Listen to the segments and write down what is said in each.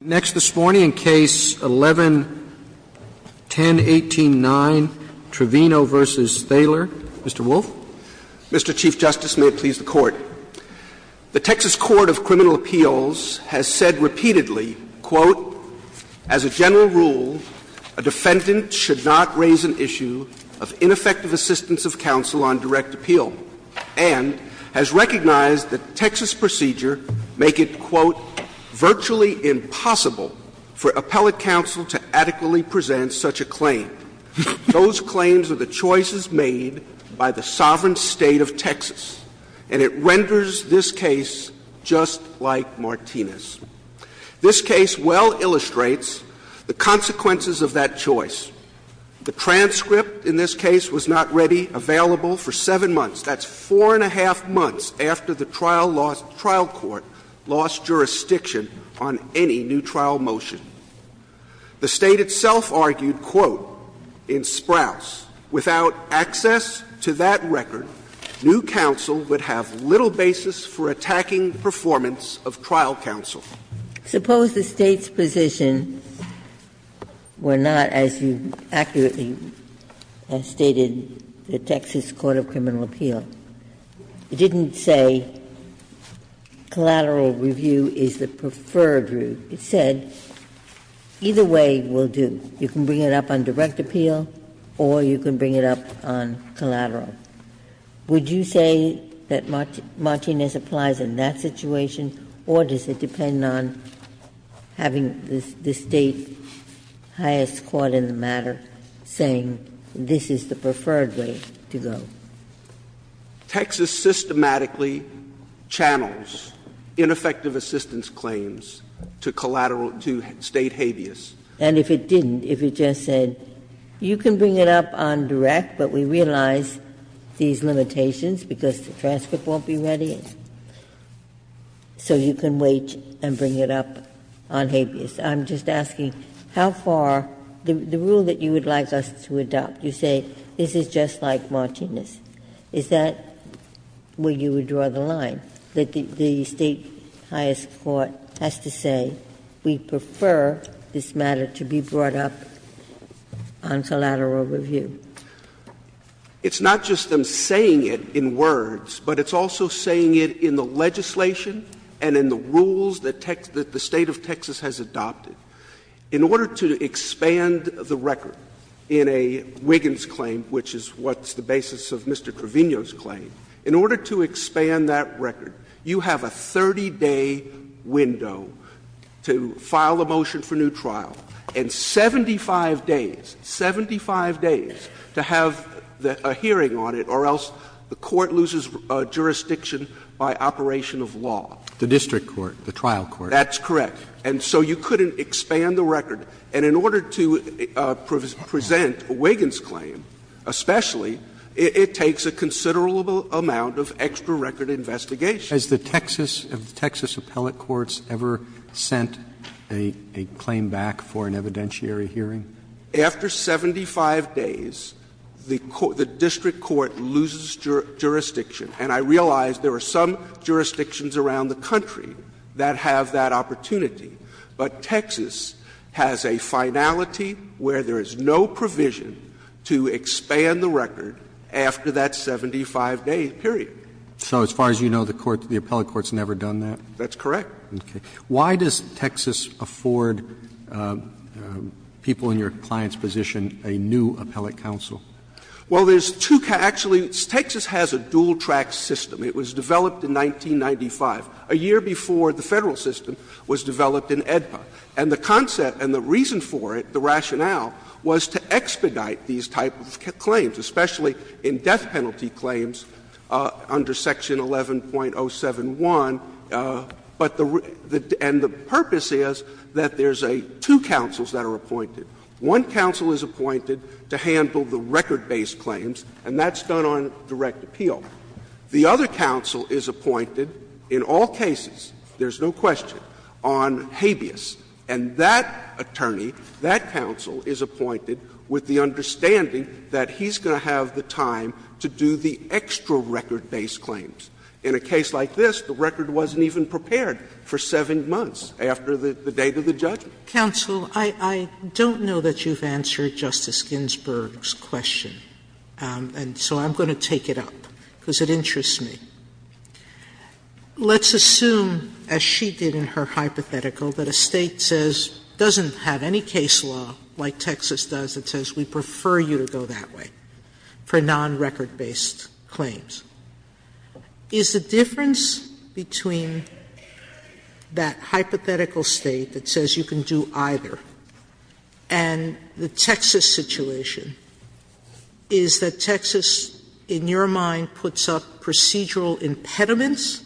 Next this morning in Case 11-1018-9, Trevino v. Thaler. Mr. Wolf. Mr. Chief Justice, may it please the Court. The Texas Court of Criminal Appeals has said repeatedly, quote, as a general rule, a defendant should not raise an issue of ineffective assistance of counsel on direct appeal, and has recognized the Texas procedure make it, quote, virtually impossible for appellate counsel to adequately present such a claim. Those claims are the choices made by the sovereign State of Texas. And it renders this case just like Martinez. This case well illustrates the consequences of that choice. The transcript in this case was not ready, available for 7 months. That's 4-1⁄2 months after the trial lost the trial court, lost jurisdiction on any new trial motion. The State itself argued, quote, in Sprouse, without access to that record, new counsel would have little basis for attacking performance of trial counsel. Suppose the State's position were not, as you accurately have stated, the Texas Court of Criminal Appeal. It didn't say collateral review is the preferred route. It said either way will do. You can bring it up on direct appeal or you can bring it up on collateral. Would you say that Martinez applies in that situation, or does it depend on having the State's highest court in the matter saying this is the preferred way to go? Texas systematically channels ineffective assistance claims to collateral to State habeas. And if it didn't, if it just said you can bring it up on direct, but we realize these limitations because the transcript won't be ready, so you can wait and bring it up on habeas, I'm just asking how far the rule that you would like us to adopt, you say this is just like Martinez, is that where you would draw the line, that the State's highest court has to say we prefer this matter to be brought up on collateral review? It's not just them saying it in words, but it's also saying it in the legislation and in the rules that the State of Texas has adopted. In order to expand the record in a Wiggins claim, which is what's the basis of Mr. Wiggins' claim, it takes a 30-day window to file a motion for new trial and 75 days, 75 days to have a hearing on it or else the court loses jurisdiction by operation of law. The district court, the trial court. That's correct. And so you couldn't expand the record. And in order to present Wiggins' claim especially, it takes a considerable amount of extra record investigation. Has the Texas of the Texas appellate courts ever sent a claim back for an evidentiary hearing? After 75 days, the district court loses jurisdiction. And I realize there are some jurisdictions around the country that have that opportunity. But Texas has a finality where there is no provision to expand the record after that 75-day period. So as far as you know, the court, the appellate court has never done that? That's correct. Okay. Why does Texas afford people in your client's position a new appellate counsel? Well, there's two can actually, Texas has a dual-track system. It was developed in 1995, a year before the Federal system was developed in AEDPA. And the concept and the reason for it, the rationale, was to expedite these type of claims, especially in death penalty claims under Section 11.071. But the real – and the purpose is that there's two counsels that are appointed. One counsel is appointed to handle the record-based claims, and that's done on direct appeal. The other counsel is appointed in all cases, there's no question, on habeas. And that attorney, that counsel, is appointed with the understanding that he's going to have the time to do the extra record-based claims. In a case like this, the record wasn't even prepared for 7 months after the date of the judgment. Counsel, I don't know that you've answered Justice Ginsburg's question, and so I'm going to take it up, because it interests me. Sotomayor, let's assume, as she did in her hypothetical, that a State says – doesn't have any case law like Texas does that says we prefer you to go that way for non-record-based claims. Is the difference between that hypothetical State that says you can do either and the Texas situation is that Texas, in your mind, puts up procedural impediments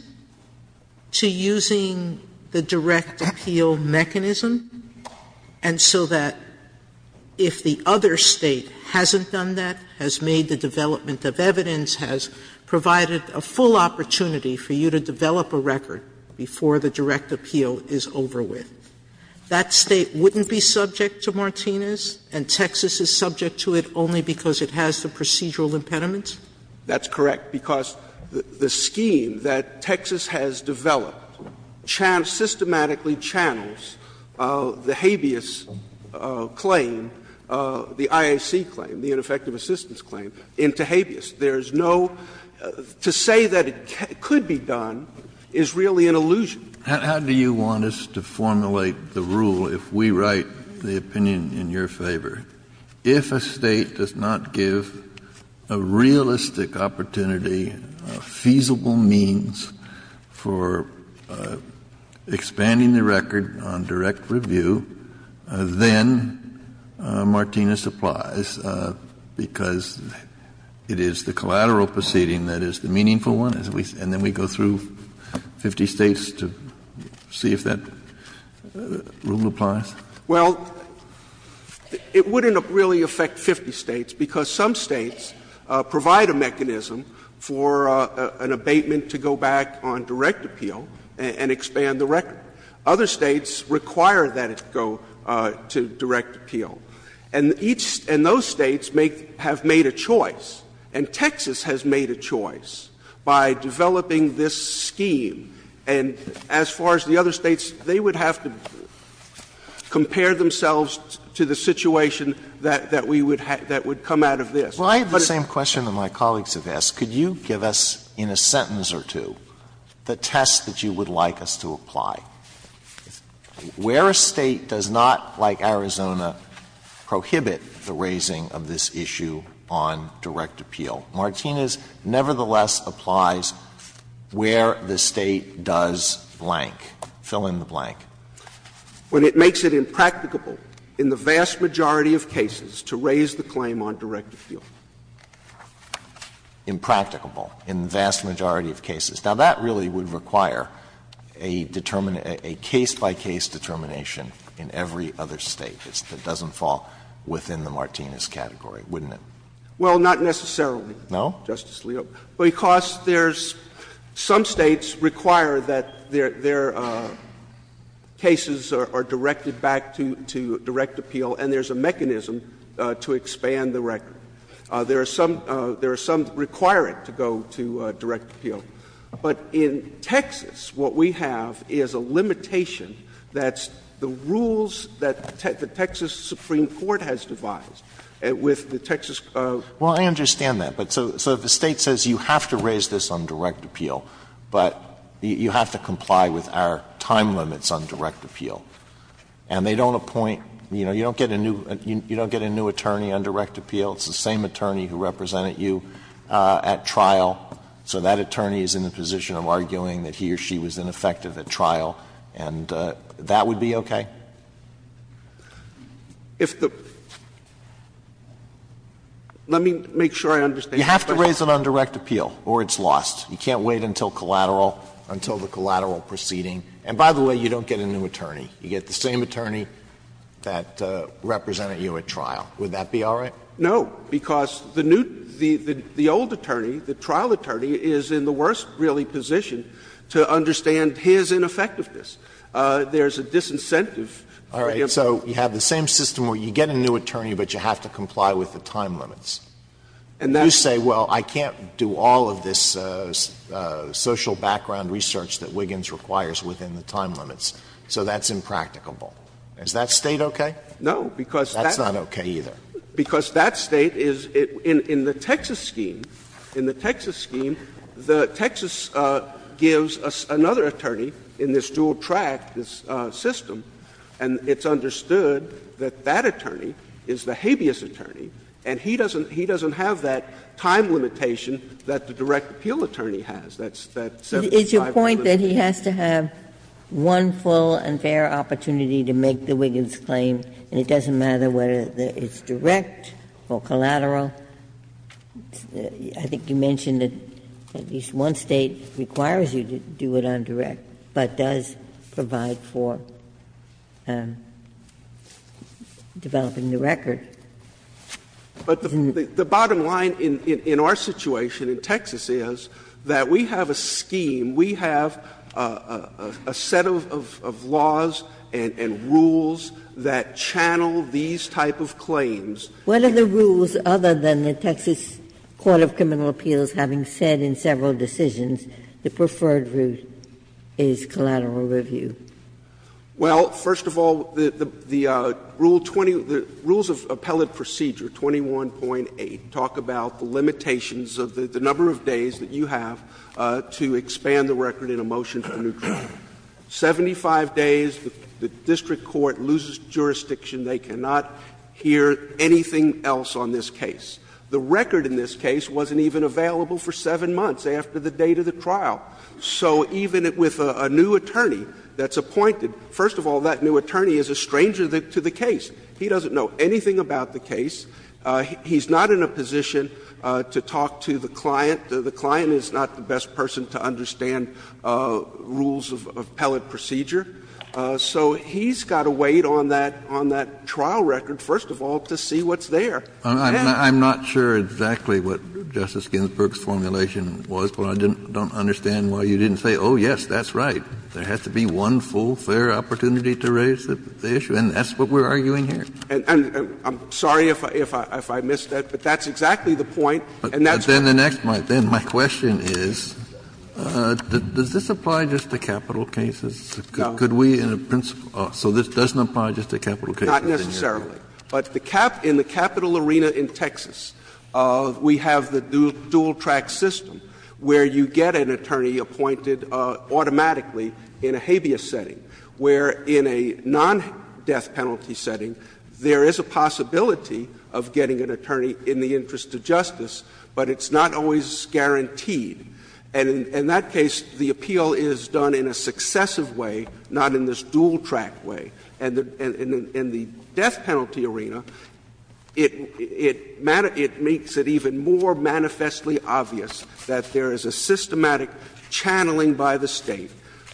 to using the direct appeal mechanism, and so that if the other State hasn't done that, has made the development of evidence, has provided a full opportunity for you to develop a record before the direct appeal is over with, that State wouldn't be subject to Martinez, and Texas is subject to it only because it has the procedural impediments? That's correct, because the scheme that Texas has developed channels, systematically channels, the habeas claim, the IAC claim, the ineffective assistance claim into habeas. There is no – to say that it could be done is really an illusion. Kennedy, how do you want us to formulate the rule if we write the opinion in your favor? If a State does not give a realistic opportunity, a feasible means for expanding the record on direct review, then Martinez applies, because it is the collateral proceeding that is the meaningful one, and then we go through 50 States to see if that rule applies? Well, it wouldn't really affect 50 States, because some States provide a mechanism for an abatement to go back on direct appeal and expand the record. Other States require that it go to direct appeal. And each – and those States have made a choice, and Texas has made a choice by developing this scheme. And as far as the other States, they would have to compare themselves to the situation that we would have – that would come out of this. Well, I have the same question that my colleagues have asked. Could you give us in a sentence or two the test that you would like us to apply? Where a State does not, like Arizona, prohibit the raising of this issue on direct appeal, Martinez nevertheless applies where the State does blank. Fill in the blank. When it makes it impracticable in the vast majority of cases to raise the claim on direct appeal. Impracticable in the vast majority of cases. Now, that really would require a case-by-case determination in every other State. It doesn't fall within the Martinez category, wouldn't it? Well, not necessarily. No? Justice Alito. Because there's – some States require that their cases are directed back to direct appeal, and there's a mechanism to expand the record. There are some that require it to go to direct appeal. But in Texas, what we have is a limitation that's the rules that the Texas Supreme Court has devised with the Texas. Well, I understand that. But so the State says you have to raise this on direct appeal, but you have to comply with our time limits on direct appeal. And they don't appoint – you know, you don't get a new attorney on direct appeal. It's the same attorney who represented you at trial. So that attorney is in the position of arguing that he or she was ineffective at trial, and that would be okay? If the – let me make sure I understand your question. You have to raise it on direct appeal, or it's lost. You can't wait until collateral, until the collateral proceeding. And by the way, you don't get a new attorney. You get the same attorney that represented you at trial. Would that be all right? No, because the new – the old attorney, the trial attorney, is in the worst, really, position to understand his ineffectiveness. There's a disincentive. All right. So you have the same system where you get a new attorney, but you have to comply with the time limits. And you say, well, I can't do all of this social background research that Wiggins requires within the time limits. So that's impracticable. Is that State okay? No, because that's not okay either. Because that State is – in the Texas scheme, in the Texas scheme, the Texas gives another attorney in this dual track, this system, and it's understood that that attorney is the habeas attorney, and he doesn't have that time limitation that the direct appeal attorney has, that 75 minutes. It's your point that he has to have one full and fair opportunity to make the Wiggins claim, and it doesn't matter whether it's direct or collateral. I think you mentioned that at least one State requires you to do it on direct, but does provide for developing the record. But the bottom line in our situation in Texas is that we have a scheme, we have a set of laws and rules that channel these type of claims. Ginsburg. What are the rules other than the Texas Court of Criminal Appeals having said in several decisions the preferred route is collateral review? Well, first of all, the rule 20 – the rules of appellate procedure 21.8 talk about the limitations of the number of days that you have to expand the record in a motion for neutrality. Seventy-five days, the district court loses jurisdiction. They cannot hear anything else on this case. The record in this case wasn't even available for 7 months after the date of the trial. So even with a new attorney that's appointed, first of all, that new attorney is a stranger to the case. He doesn't know anything about the case. He's not in a position to talk to the client. The client is not the best person to understand rules of appellate procedure. So he's got to wait on that trial record, first of all, to see what's there. Kennedy. I'm not sure exactly what Justice Ginsburg's formulation was, but I don't understand why you didn't say, oh, yes, that's right. There has to be one full, fair opportunity to raise the issue, and that's what we're arguing here. I'm sorry if I missed that, but that's exactly the point, and that's what I'm saying. Kennedy. My question is, does this apply just to capital cases? Could we in a principle office? So this doesn't apply just to capital cases? Not necessarily. But in the capital arena in Texas, we have the dual-track system where you get an attorney appointed automatically in a habeas setting, where in a non-death-penalty arena, there is a systematic channeling by the State,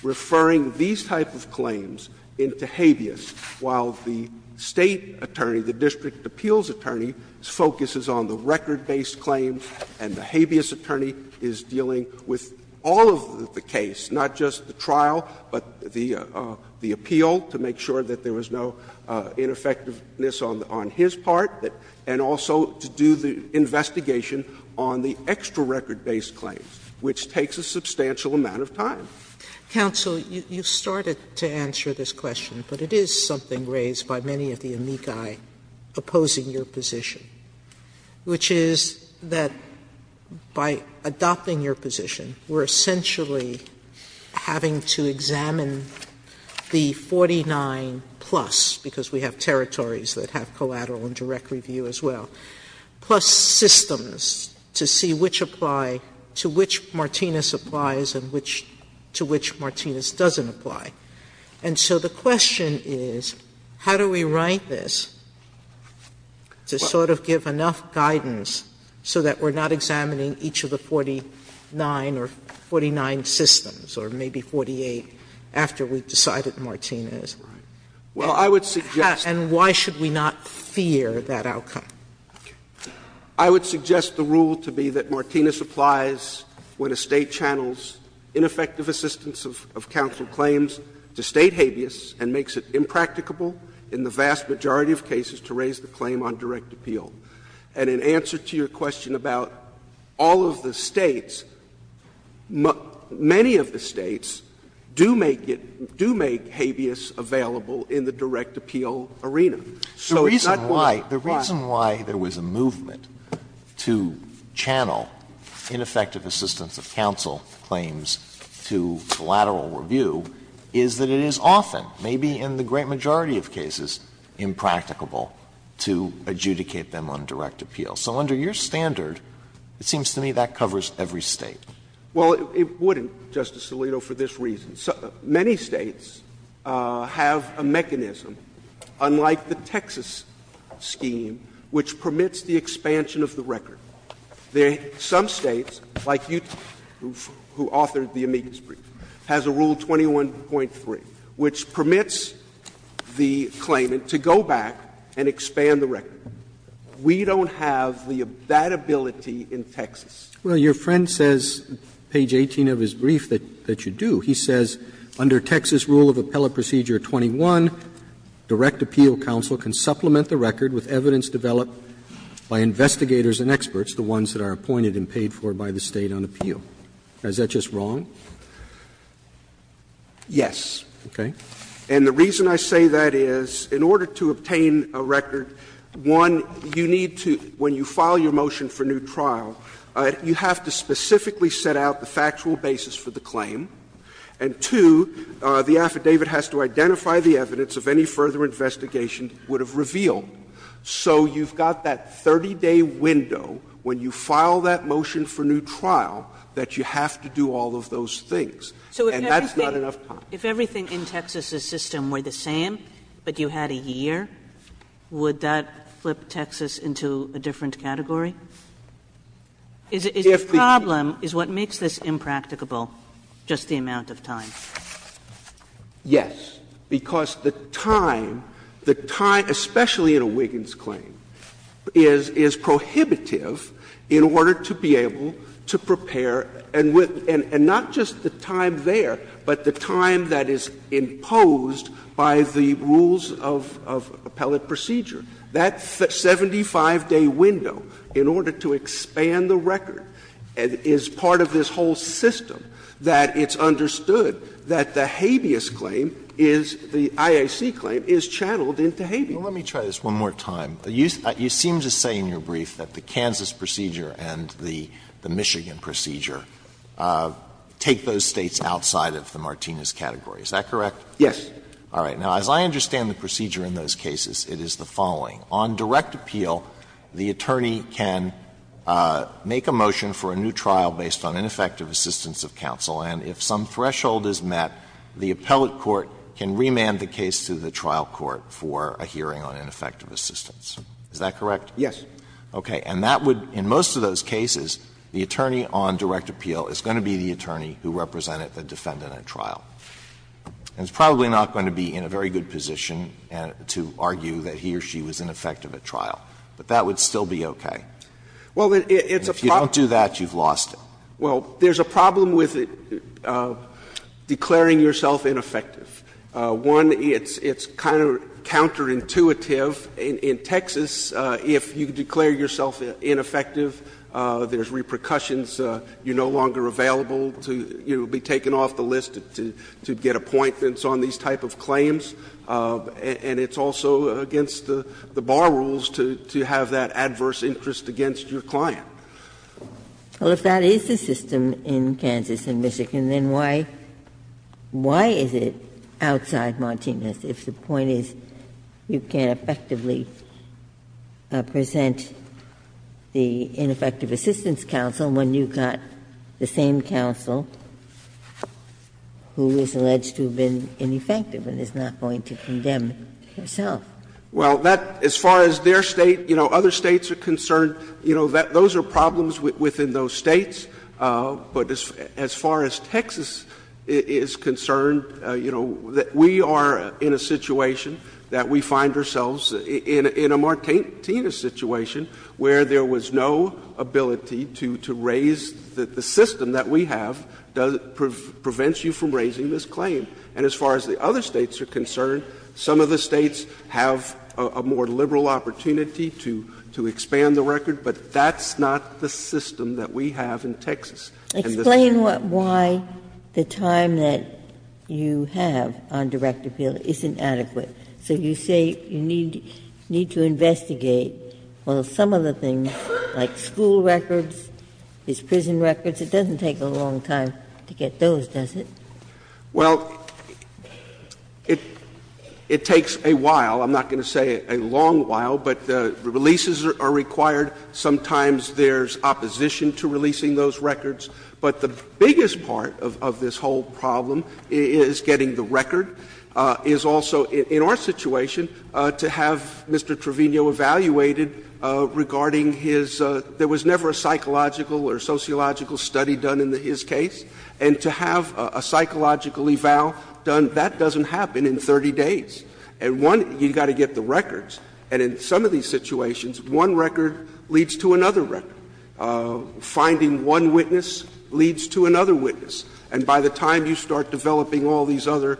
referring these type of claims into habeas, while the State attorney, the district appeals attorney, focuses on the record-based claims and the non-death-penalty claims, while the district appeals attorney is dealing with the record-based claims, and the habeas attorney is dealing with all of the case, not just the trial, but the appeal, to make sure that there was no ineffectiveness on his part, and also to do the investigation on the extra-record-based claims, which takes a substantial amount of time. Sotomayor, you started to answer this question, but it is something raised by many of the amici opposing your position, which is that by adopting your position, we are essentially having to examine the 49-plus, because we have territories that have collateral and direct review as well, plus systems to see which apply to which Martinez applies and which to which Martinez doesn't apply. And so the question is, how do we write this to sort of give enough guidance so that we are not examining each of the 49 or 49 systems, or maybe 48, after we have decided Martinez? And why should we not fear that outcome? I would suggest the rule to be that Martinez applies when a State channels ineffective assistance of counsel claims to State habeas, and makes it impracticable in the vast majority of cases to raise the claim on direct appeal. And in answer to your question about all of the States, many of the States do make it do make habeas available in the direct appeal arena. The reason why there was a movement to channel ineffective assistance of counsel claims to collateral review is that it is often, maybe in the great majority of cases, impracticable to adjudicate them on direct appeal. So under your standard, it seems to me that covers every State. Well, it wouldn't, Justice Alito, for this reason. Many States have a mechanism, unlike the Texas scheme, which permits the expansion of the record. Some States, like Utah, who authored the amicus brief, has a Rule 21.3, which permits the claimant to go back and expand the record. We don't have that ability in Texas. Well, your friend says, page 18 of his brief, that you do. He says under Texas Rule of Appellate Procedure 21, direct appeal counsel can supplement the record with evidence developed by investigators and experts, the ones that are appointed and paid for by the State on appeal. Is that just wrong? Yes. Okay. And the reason I say that is, in order to obtain a record, one, you need to, when you file your motion for new trial, you have to specifically set out the factual basis for the claim, and two, the affidavit has to identify the evidence of any further investigation it would have revealed. So you've got that 30-day window when you file that motion for new trial that you have to do all of those things, and that's not enough time. If everything in Texas's system were the same, but you had a year, would that flip Texas into a different category? Is the problem, is what makes this impracticable just the amount of time? Yes. Because the time, the time, especially in a Wiggins claim, is prohibitive in order to be able to prepare, and not just the time there, but the time that is imposed by the rules of appellate procedure. That 75-day window, in order to expand the record, is part of this whole system that it's understood that the habeas claim is, the IAC claim, is channeled into habeas. Alito, let me try this one more time. You seem to say in your brief that the Kansas procedure and the Michigan procedure take those States outside of the Martinez category. Is that correct? Yes. All right. Now, as I understand the procedure in those cases, it is the following. On direct appeal, the attorney can make a motion for a new trial based on ineffective assistance of counsel, and if some threshold is met, the appellate court can remand the case to the trial court for a hearing on ineffective assistance. Is that correct? Yes. Okay. And that would, in most of those cases, the attorney on direct appeal is going to be the attorney who represented the defendant at trial. And it's probably not going to be in a very good position to argue that he or she was ineffective at trial, but that would still be okay. If you don't do that, you've lost it. Well, there's a problem with declaring yourself ineffective. One, it's kind of counterintuitive. In Texas, if you declare yourself ineffective, there's repercussions. You're no longer available to be taken off the list to get appointments on these type of claims. And it's also against the bar rules to have that adverse interest against your client. Well, if that is the system in Kansas and Michigan, then why is it outside Martinez if the point is you can't effectively present the ineffective assistance counsel when you've got the same counsel who is alleged to have been ineffective and is not going to condemn herself? Well, that, as far as their State, you know, other States are concerned, you know, those are problems within those States. But as far as Texas is concerned, you know, we are in a situation that we find ourselves in a Martinez situation where there was no ability to raise the system that we have that prevents you from raising this claim. And as far as the other States are concerned, some of the States have a more liberal opportunity to expand the record, but that's not the system that we have in Texas. And this is where we are. Ginsburg. Explain why the time that you have on direct appeal isn't adequate. So you say you need to investigate, well, some of the things, like school records, these prison records. It doesn't take a long time to get those, does it? Well, it takes a while. I'm not going to say a long while, but releases are required. Sometimes there's opposition to releasing those records. But the biggest part of this whole problem is getting the record, is also in our situation, to have Mr. Trevino evaluated regarding his — there was never a psychological or sociological study done in his case. And to have a psychological eval done, that doesn't happen in 30 days. And one, you've got to get the records. And in some of these situations, one record leads to another record. Finding one witness leads to another witness. And by the time you start developing all these other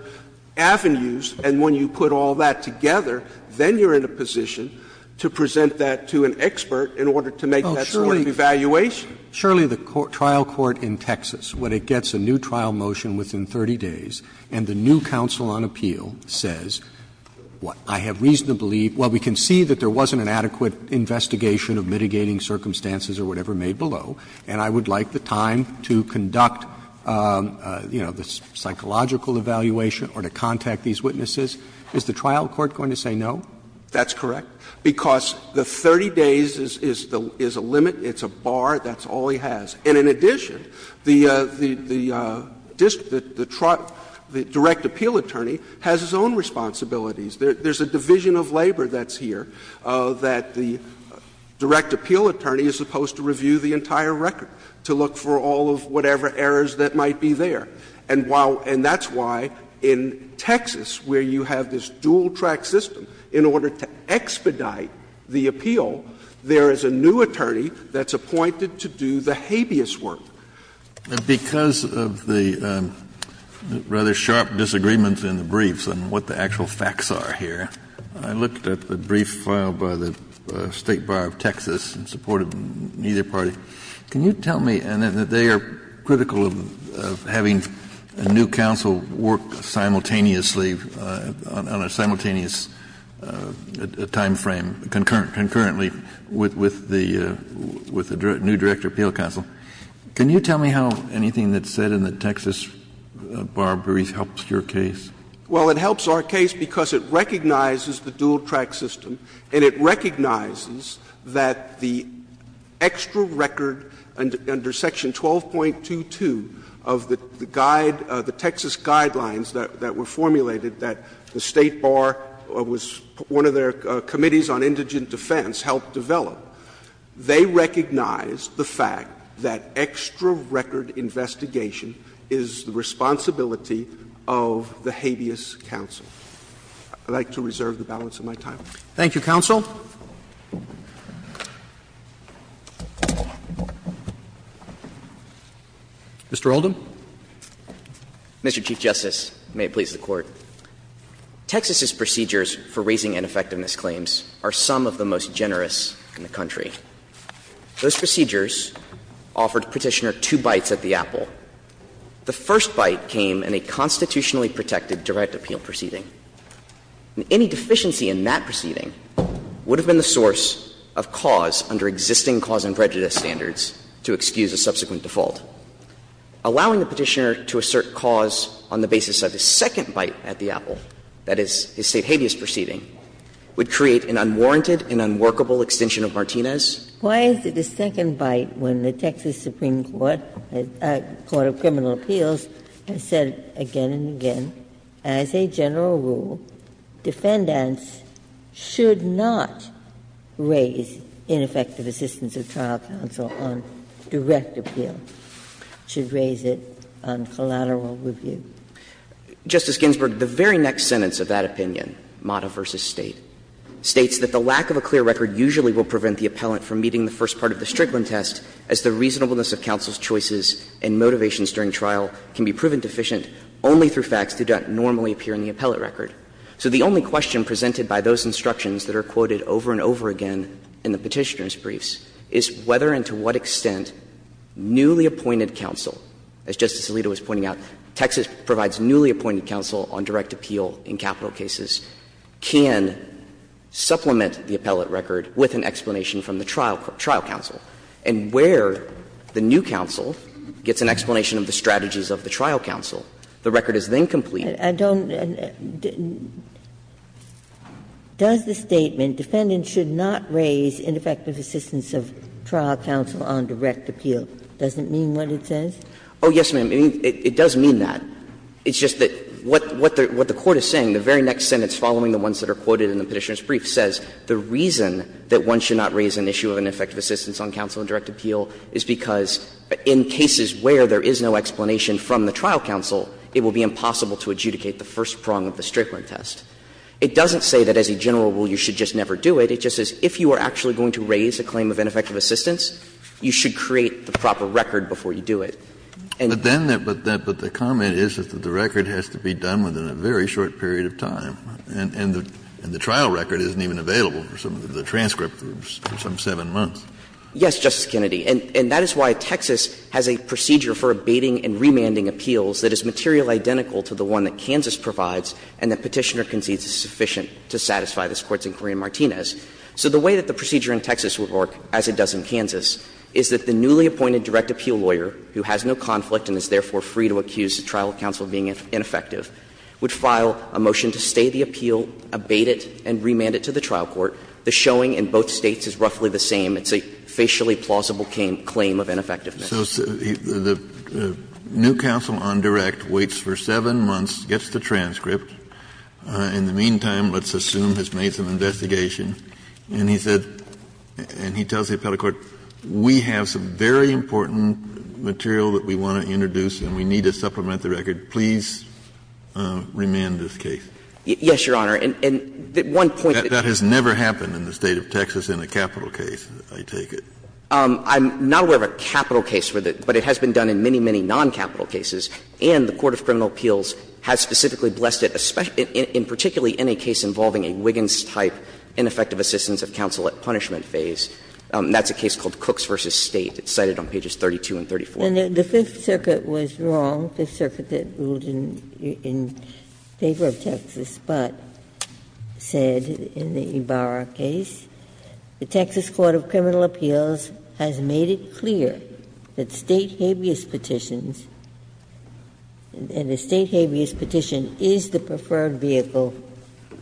avenues, and when you put all that together, then you're in a position to present that to an expert in order to make that sort of evaluation. Roberts. Sotomayor, the trial court in Texas, when it gets a new trial motion within 30 days and the new counsel on appeal says, I have reasonably — well, we can see that there is a limit to 30 days or whatever made below, and I would like the time to conduct, you know, the psychological evaluation or to contact these witnesses, is the trial court going to say no? That's correct. Because the 30 days is a limit, it's a bar, that's all he has. And in addition, the direct appeal attorney has his own responsibilities. There's a division of labor that's here that the direct appeal attorney is supposed to review the entire record to look for all of whatever errors that might be there. And while — and that's why in Texas, where you have this dual-track system in order to expedite the appeal, there is a new attorney that's appointed to do the habeas work. Kennedy. Because of the rather sharp disagreements in the briefs and what the actual facts are here, I looked at the brief filed by the State Bar of Texas in support of either party. Can you tell me — and they are critical of having a new counsel work simultaneously on a simultaneous timeframe, concurrently with the new direct appeal counsel. Can you tell me how anything that's said in the Texas bar brief helps your case? Well, it helps our case because it recognizes the dual-track system, and it recognizes that the extra record under section 12.22 of the guide, the Texas guidelines that were formulated that the State Bar was one of their committees on indigent defense helped develop. They recognize the fact that extra record investigation is the responsibility of the habeas counsel. I'd like to reserve the balance of my time. Thank you, counsel. Mr. Oldham. Mr. Chief Justice, and may it please the Court. Texas's procedures for raising ineffectiveness claims are some of the most generous in the country. Those procedures offered Petitioner two bites at the apple. The first bite came in a constitutionally protected direct appeal proceeding. Any deficiency in that proceeding would have been the source of cause under existing cause and prejudice standards to excuse a subsequent default. Allowing the Petitioner to assert cause on the basis of his second bite at the apple, that is, his State habeas proceeding, would create an unwarranted and unworkable extension of Martinez. Why is it the second bite when the Texas Supreme Court, the Court of Criminal Appeals, has said again and again, as a general rule, defendants should not raise ineffective assistance of trial counsel on direct appeal, should raise it on collateral review? Justice Ginsburg, the very next sentence of that opinion, Mata v. State, states that the lack of a clear record usually will prevent the appellant from meeting the first part of the Strickland test, as the reasonableness of counsel's choices and motivations during trial can be proven deficient only through facts that don't normally appear in the appellate record. So the only question presented by those instructions that are quoted over and over again in the Petitioner's briefs is whether and to what extent newly appointed counsel, as Justice Alito was pointing out, Texas provides newly appointed counsel on direct appeal in capital cases, can supplement the appellate record with an explanation from the trial counsel. And where the new counsel gets an explanation of the strategies of the trial counsel, the record is then complete. Ginsburg, I don't, does the statement, defendant should not raise ineffective assistance? Oh, yes, ma'am. It does mean that. It's just that what the Court is saying, the very next sentence following the ones that are quoted in the Petitioner's brief says the reason that one should not raise an issue of ineffective assistance on counsel in direct appeal is because in cases where there is no explanation from the trial counsel, it will be impossible to adjudicate the first prong of the Strickland test. It doesn't say that as a general rule you should just never do it. It just says if you are actually going to raise a claim of ineffective assistance, you should create the proper record before you do it. And then that, but the comment is that the record has to be done within a very short period of time. And the trial record isn't even available for some of the transcript for some 7 months. Yes, Justice Kennedy. And that is why Texas has a procedure for abating and remanding appeals that is material identical to the one that Kansas provides and that Petitioner concedes is sufficient to satisfy this Court's inquiry in Martinez. So the way that the procedure in Texas would work, as it does in Kansas, is that the newly appointed direct appeal lawyer, who has no conflict and is therefore free to accuse the trial counsel of being ineffective, would file a motion to stay the appeal, abate it, and remand it to the trial court. The showing in both States is roughly the same. It's a facially plausible claim of ineffectiveness. Kennedy, The new counsel on direct waits for 7 months, gets the transcript. In the meantime, let's assume has made some investigation, and he said, and he tells the appellate court, we have some very important material that we want to introduce and we need to supplement the record, please remand this case. Yes, Your Honor, and one point that has never happened in the State of Texas in a capital case, I take it. I'm not aware of a capital case, but it has been done in many, many non-capital cases, and the Court of Criminal Appeals has specifically blessed it, in particularly in a case involving a Wiggins-type ineffective assistance of counsel at punishment phase, and that's a case called Cooks v. State. It's cited on pages 32 and 34. Ginsburg, And the Fifth Circuit was wrong, the circuit that ruled in favor of Texas, but said in the Ibarra case, the Texas Court of Criminal Appeals has made it clear that State habeas petitions, and the State habeas petition is the preferred vehicle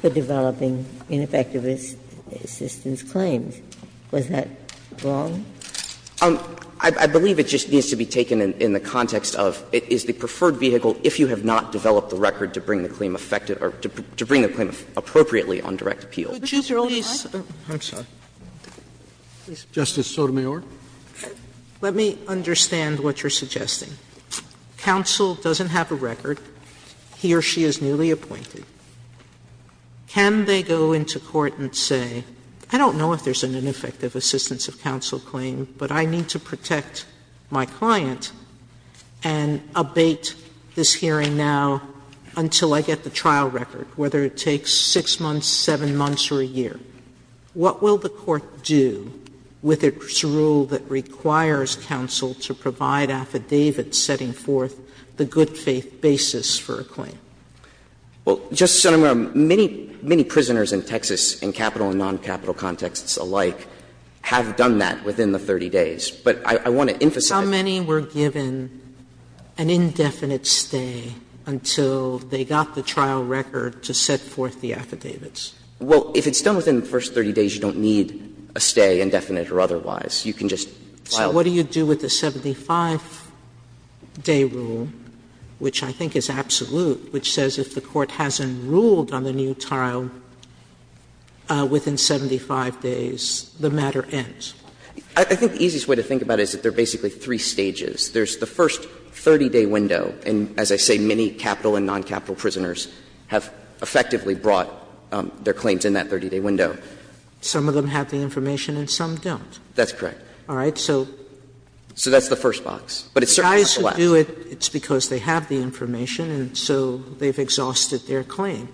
for developing ineffective assistance claims. Was that wrong? I believe it just needs to be taken in the context of it is the preferred vehicle if you have not developed the record to bring the claim effective, or to bring the claim appropriately on direct appeal. I'm sorry. Justice Sotomayor. Sotomayor, let me understand what you're suggesting. Counsel doesn't have a record. He or she is newly appointed. Can they go into court and say, I don't know if there's an ineffective assistance of counsel claim, but I need to protect my client and abate this hearing now until I get the trial record, whether it takes 6 months, 7 months, or a year. What will the court do with its rule that requires counsel to provide affidavits setting forth the good faith basis for a claim? Well, Justice Sotomayor, many, many prisoners in Texas in capital and noncapital contexts alike have done that within the 30 days. But I want to emphasize that. How many were given an indefinite stay until they got the trial record to set forth the affidavits? Well, if it's done within the first 30 days, you don't need a stay, indefinite or otherwise. You can just file it. So what do you do with the 75-day rule, which I think is absolute, which says if the court hasn't ruled on the new trial within 75 days, the matter ends? I think the easiest way to think about it is that there are basically three stages. There's the first 30-day window, and as I say, many capital and noncapital prisoners have effectively brought their claims in that 30-day window. Some of them have the information and some don't. That's correct. All right. So that's the first box. But it's certainly not the last. The guys who do it, it's because they have the information and so they've exhausted their claim.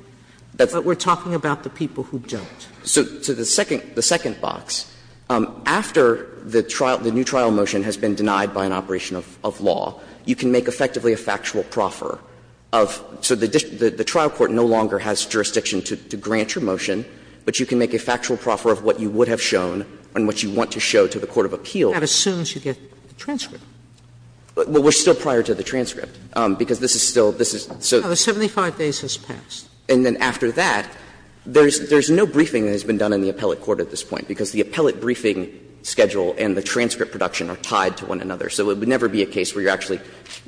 But we're talking about the people who don't. So the second box, after the trial, the new trial motion has been denied by an operation of law, you can make effectively a factual proffer of so the trial court no longer has jurisdiction to grant your motion, but you can make a factual proffer of what you would have shown and what you want to show to the court of appeal. Sotomayor That assumes you get the transcript. Well, we're still prior to the transcript, because this is still, this is, so. Oh, the 75 days has passed. And then after that, there's no briefing that has been done in the appellate court at this point, because the appellate briefing schedule and the transcript production are tied to one another. So it would never be a case where you're actually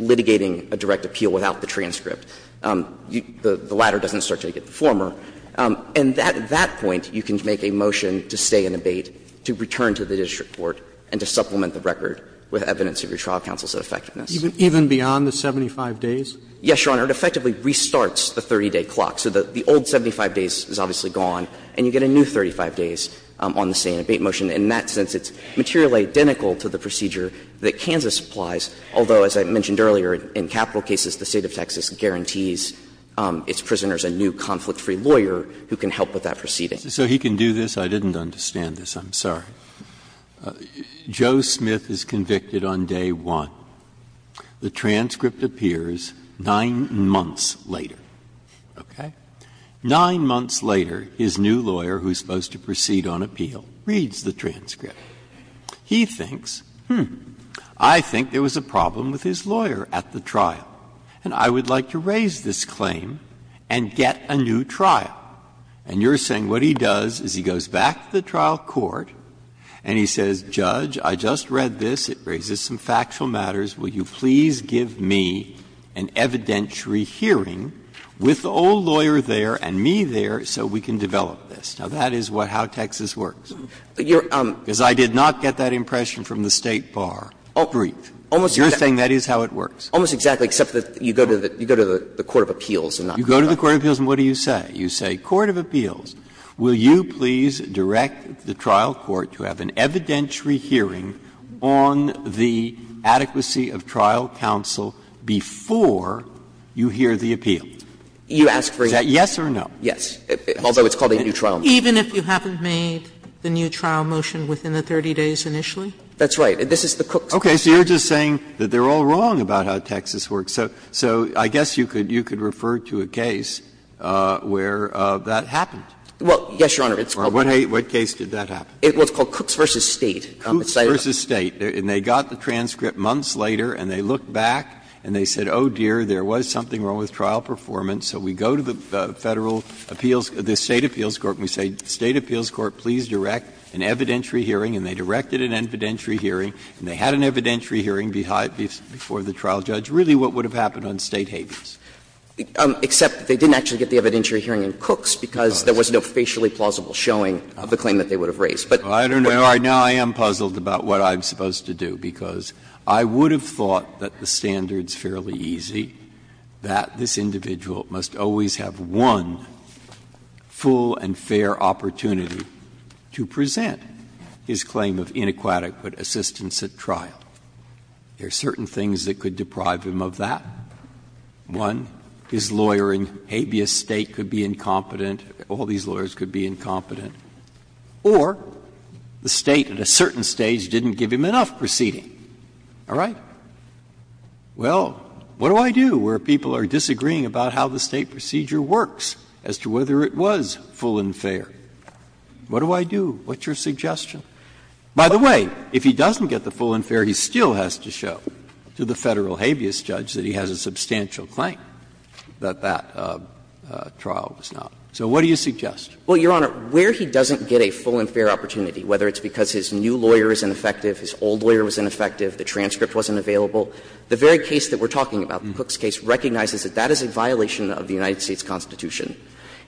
litigating a direct appeal without the transcript. The latter doesn't start until you get the former. And at that point, you can make a motion to stay in abate, to return to the district court, and to supplement the record with evidence of your trial counsel's effectiveness. Even beyond the 75 days? Yes, Your Honor. It effectively restarts the 30-day clock. So the old 75 days is obviously gone, and you get a new 35 days on the stay in abate motion. In that sense, it's materially identical to the procedure that Kansas applies, although, as I mentioned earlier, in capital cases, the State of Texas guarantees its prisoners a new conflict-free lawyer who can help with that proceeding. Breyer So he can do this? I didn't understand this. I'm sorry. Joe Smith is convicted on day one. The transcript appears 9 months later. Okay? 9 months later, his new lawyer, who is supposed to proceed on appeal, reads the transcript. He thinks, hmm, I think there was a problem with his lawyer at the trial, and I would like to raise this claim and get a new trial. And you're saying what he does is he goes back to the trial court and he says, Judge, I just read this. It raises some factual matters. Will you please give me an evidentiary hearing with the old lawyer there and me there so we can develop this? Now, that is how Texas works. Because I did not get that impression from the State bar brief. You're saying that is how it works. Almost exactly, except that you go to the court of appeals and not the trial court. You go to the court of appeals and what do you say? You say, court of appeals, will you please direct the trial court to have an evidentiary hearing on the adequacy of trial counsel before you hear the appeal? Is that yes or no? Yes. Although it's called a new trial motion. Even if you haven't made the new trial motion within the 30 days initially? That's right. This is the Cooks case. Okay. So you're just saying that they're all wrong about how Texas works. So I guess you could refer to a case where that happened. Well, yes, Your Honor. Or what case did that happen? It was called Cooks v. State. Cooks v. State. And they got the transcript months later and they looked back and they said, oh, dear, there was something wrong with trial performance. So we go to the Federal appeals – the State appeals court and we say, State appeals court, please direct an evidentiary hearing. And they directed an evidentiary hearing and they had an evidentiary hearing before the trial judge. Really, what would have happened on State havens? Except they didn't actually get the evidentiary hearing in Cooks because there was no facially plausible showing of the claim that they would have raised. But what would have happened? Now I am puzzled about what I'm supposed to do, because I would have thought that the standard's fairly easy, that this individual must always have one full and fair opportunity to present his claim of inaquatic assistance at trial. There are certain things that could deprive him of that. One, his lawyer in habeas State could be incompetent, all these lawyers could be incompetent. Or the State at a certain stage didn't give him enough proceeding. All right? Well, what do I do where people are disagreeing about how the State procedure works as to whether it was full and fair? What do I do? What's your suggestion? By the way, if he doesn't get the full and fair, he still has to show to the Federal habeas judge that he has a substantial claim that that trial was not. So what do you suggest? Well, Your Honor, where he doesn't get a full and fair opportunity, whether it's because his new lawyer is ineffective, his old lawyer was ineffective, the transcript wasn't available, the very case that we're talking about, the Cooks case, recognizes that that is a violation of the United States Constitution.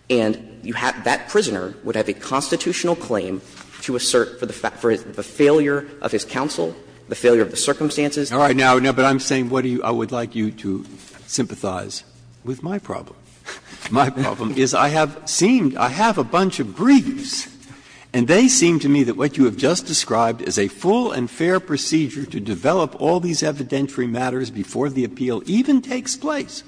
And you have that prisoner would have a constitutional claim to assert for the failure of his counsel, the failure of the circumstances. All right. Now, but I'm saying what I would like you to sympathize with my problem. My problem is I have seemed, I have a bunch of briefs, and they seem to me that what you have just described as a full and fair procedure to develop all these evidentiary matters before the appeal even takes place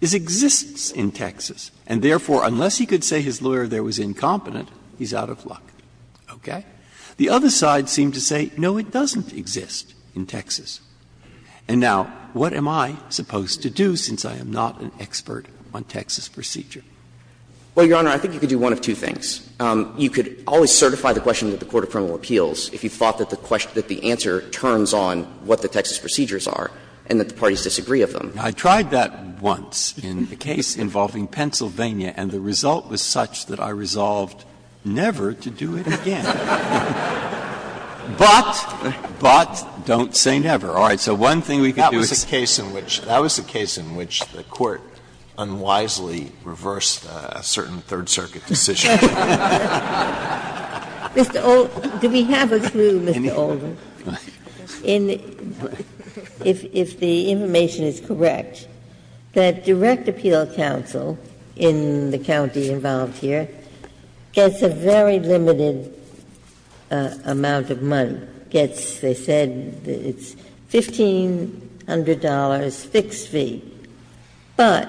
exists in Texas, and therefore, unless he could say his lawyer there was incompetent, he's out of luck, okay? The other side seemed to say, no, it doesn't exist in Texas. And now, what am I supposed to do since I am not an expert on Texas procedure? Well, Your Honor, I think you could do one of two things. You could always certify the question to the court of criminal appeals if you thought that the question, that the answer turns on what the Texas procedures are and that the parties disagree of them. I tried that once in a case involving Pennsylvania, and the result was such that I resolved never to do it again. But, but don't say never. All right. So one thing we could do is say never. Alito, that was a case in which the court unwisely reversed a certain Third Circuit decision. Ginsburg. Do we have a clue, Mr. Oldham, if the information is correct, that direct appeal in the county involved here gets a very limited amount of money, gets, they said, it's $1,500 fixed fee, but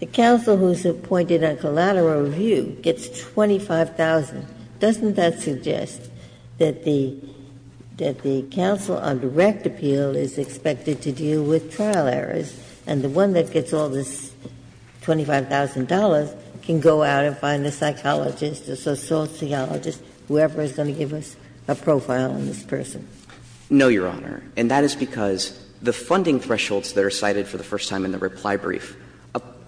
the counsel who is appointed on collateral review gets $25,000. Doesn't that suggest that the counsel on direct appeal is expected to deal with trial errors, and the one that gets all this $25,000 can go out and find a psychologist or sociologist, whoever is going to give us a profile on this person? No, Your Honor, and that is because the funding thresholds that are cited for the first time in the reply brief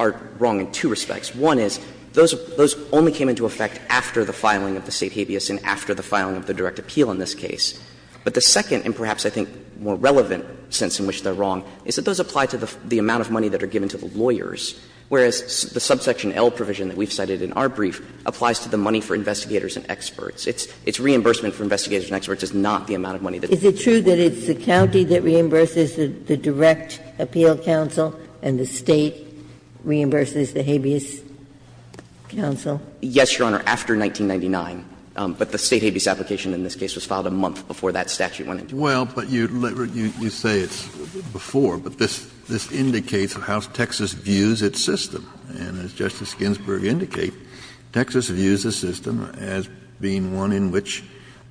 are wrong in two respects. One is, those only came into effect after the filing of the State habeas and after the filing of the direct appeal in this case. But the second, and perhaps I think more relevant sense in which they're wrong, is that those apply to the amount of money that are given to the lawyers, whereas the subsection L provision that we've cited in our brief applies to the money for investigators and experts. Its reimbursement for investigators and experts is not the amount of money that is given to the lawyers. Ginsburg. Is it true that it's the county that reimburses the direct appeal counsel and the State reimburses the habeas counsel? Yes, Your Honor, after 1999. went into effect. Well, but you say it's before, but this indicates how Texas views its system. And as Justice Ginsburg indicated, Texas views the system as being one in which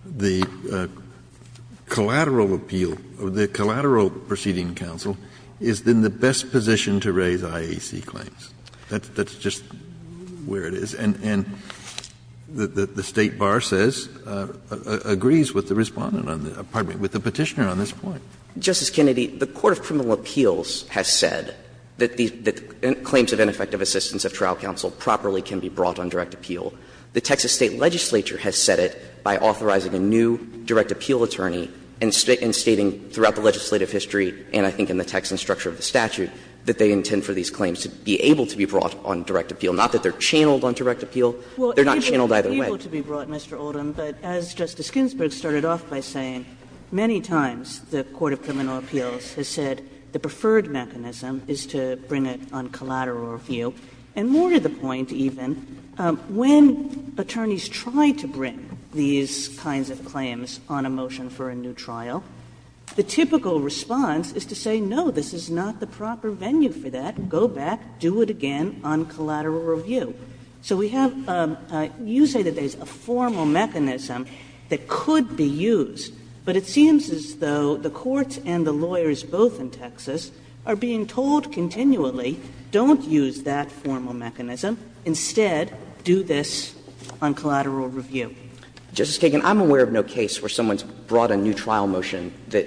the collateral appeal, the collateral proceeding counsel is in the best position to raise IAC claims. That's just where it is. And the State bar says, agrees with the Respondent on the – pardon me, with the Petitioner on this point. Justice Kennedy, the Court of Criminal Appeals has said that the claims of ineffective assistance of trial counsel properly can be brought on direct appeal. The Texas State legislature has said it by authorizing a new direct appeal attorney and stating throughout the legislative history, and I think in the text and structure of the statute, that they intend for these claims to be able to be brought on direct appeal. They're not channeled either way. Well, it's able to be brought, Mr. Oldham, but as Justice Ginsburg started off by saying, many times the Court of Criminal Appeals has said the preferred mechanism is to bring it on collateral review. And more to the point, even, when attorneys try to bring these kinds of claims on a motion for a new trial, the typical response is to say, no, this is not the proper venue for that. Go back, do it again on collateral review. So we have you say that there's a formal mechanism that could be used, but it seems as though the courts and the lawyers both in Texas are being told continually, don't use that formal mechanism, instead do this on collateral review. Justice Kagan, I'm aware of no case where someone's brought a new trial motion that,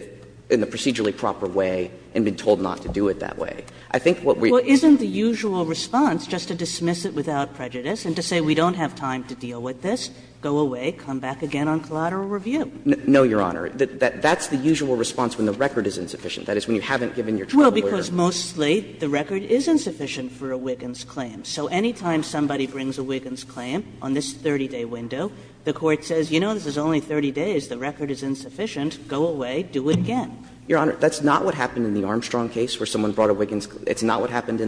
in a procedurally proper way, and been told not to do it that way. But I'm just curious, if you're going to do this without prejudice and to say we don't have time to deal with this, go away, come back again on collateral review. No, Your Honor. That's the usual response when the record is insufficient, that is, when you haven't given your trial lawyer. Well, because mostly the record is insufficient for a Wiggins claim. So any time somebody brings a Wiggins claim on this 30-day window, the Court says, you know, this is only 30 days, the record is insufficient, go away, do it again. a Wiggins. It's not what happened in the Motley case.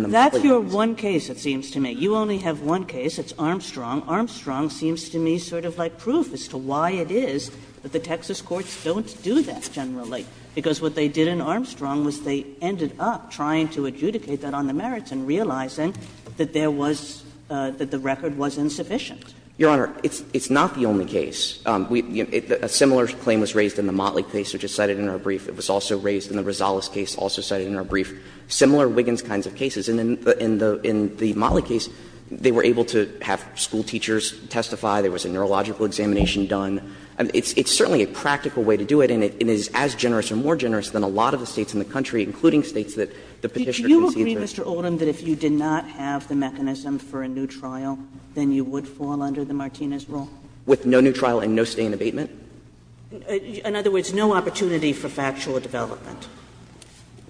That's your one case, it seems to me. You only have one case. It's Armstrong. Armstrong seems to me sort of like proof as to why it is that the Texas courts don't do that generally, because what they did in Armstrong was they ended up trying to adjudicate that on the merits and realizing that there was the record was insufficient. Your Honor, it's not the only case. A similar claim was raised in the Motley case, which is cited in our brief. It was also raised in the Rosales case, also cited in our brief. Similar Wiggins kinds of cases. And in the Motley case, they were able to have school teachers testify. There was a neurological examination done. It's certainly a practical way to do it, and it is as generous or more generous than a lot of the States in the country, including States that the Petitioner concedes are. Sotomayor, do you agree, Mr. Oldham, that if you did not have the mechanism for a new trial, then you would fall under the Martinez rule? With no new trial and no stay in abatement? In other words, no opportunity for factual development.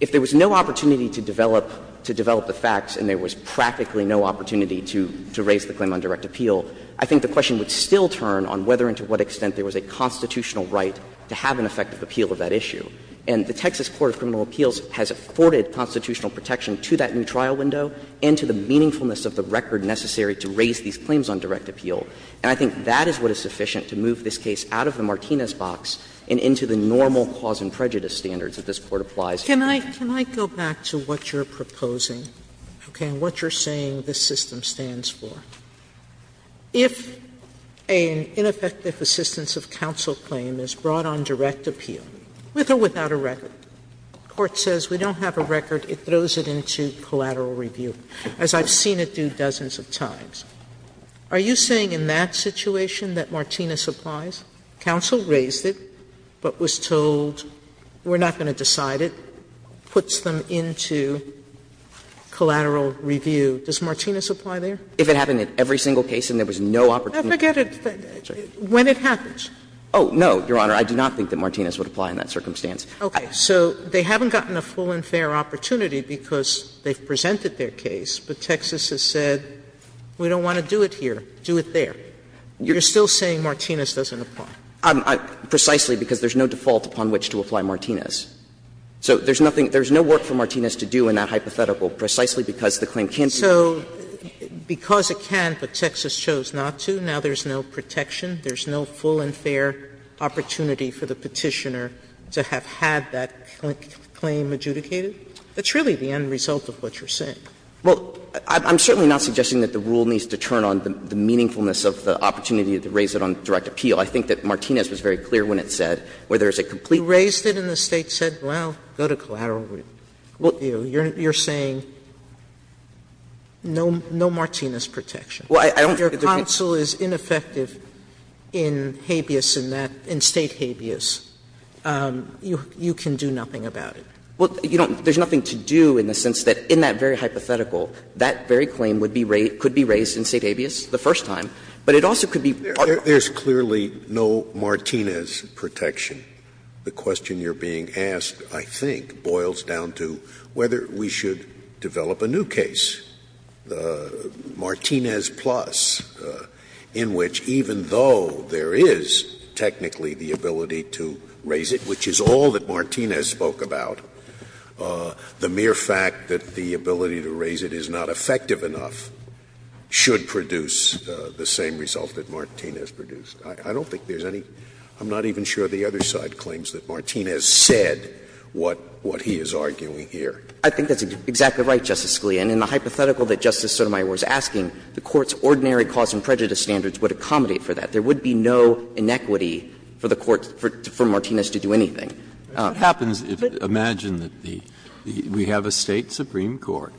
If there was no opportunity to develop the facts and there was practically no opportunity to raise the claim on direct appeal, I think the question would still turn on whether and to what extent there was a constitutional right to have an effective appeal of that issue. And the Texas Court of Criminal Appeals has afforded constitutional protection to that new trial window and to the meaningfulness of the record necessary to raise these claims on direct appeal. And I think that is what is sufficient to move this case out of the Martinez box and into the normal cause and prejudice standards that this Court applies. Sotomayor, can I go back to what you are proposing, okay, and what you are saying this system stands for? If an ineffective assistance of counsel claim is brought on direct appeal, with or without a record, the Court says we don't have a record, it throws it into collateral review, as I have seen it do dozens of times. Are you saying in that situation that Martinez applies? Counsel raised it, but was told we are not going to decide it, puts them into collateral review. Does Martinez apply there? If it happened in every single case and there was no opportunity to do it. Forget it. When it happens. Oh, no, Your Honor. I do not think that Martinez would apply in that circumstance. Okay. So they haven't gotten a full and fair opportunity because they have presented their case, but Texas has said we don't want to do it here, do it there. You are still saying Martinez doesn't apply? Precisely, because there is no default upon which to apply Martinez. So there is nothing, there is no work for Martinez to do in that hypothetical precisely because the claim can't be. So because it can, but Texas chose not to, now there is no protection, there is no full and fair opportunity for the Petitioner to have had that claim adjudicated? That's really the end result of what you are saying. Well, I'm certainly not suggesting that the rule needs to turn on the meaningfulness of the opportunity to raise it on direct appeal. I think that Martinez was very clear when it said, where there is a complete You raised it in the State, said, well, go to collateral review. You are saying no Martinez protection. Well, I don't think there can be. If your counsel is ineffective in habeas in that, in State habeas, you can do nothing about it. Well, you don't, there is nothing to do in the sense that in that very hypothetical, that very claim would be raised, could be raised in State habeas the first time, but it also could be. There is clearly no Martinez protection. The question you are being asked, I think, boils down to whether we should develop a new case, Martinez plus, in which even though there is technically the ability to raise it, which is all that Martinez spoke about, the mere fact that the ability to raise it is not effective enough should produce the same result that Martinez produced. I don't think there is any – I'm not even sure the other side claims that Martinez said what he is arguing here. I think that's exactly right, Justice Scalia. And in the hypothetical that Justice Sotomayor was asking, the Court's ordinary cause and prejudice standards would accommodate for that. There would be no inequity for the Court, for Martinez to do anything. Breyer, imagine that we have a State supreme court,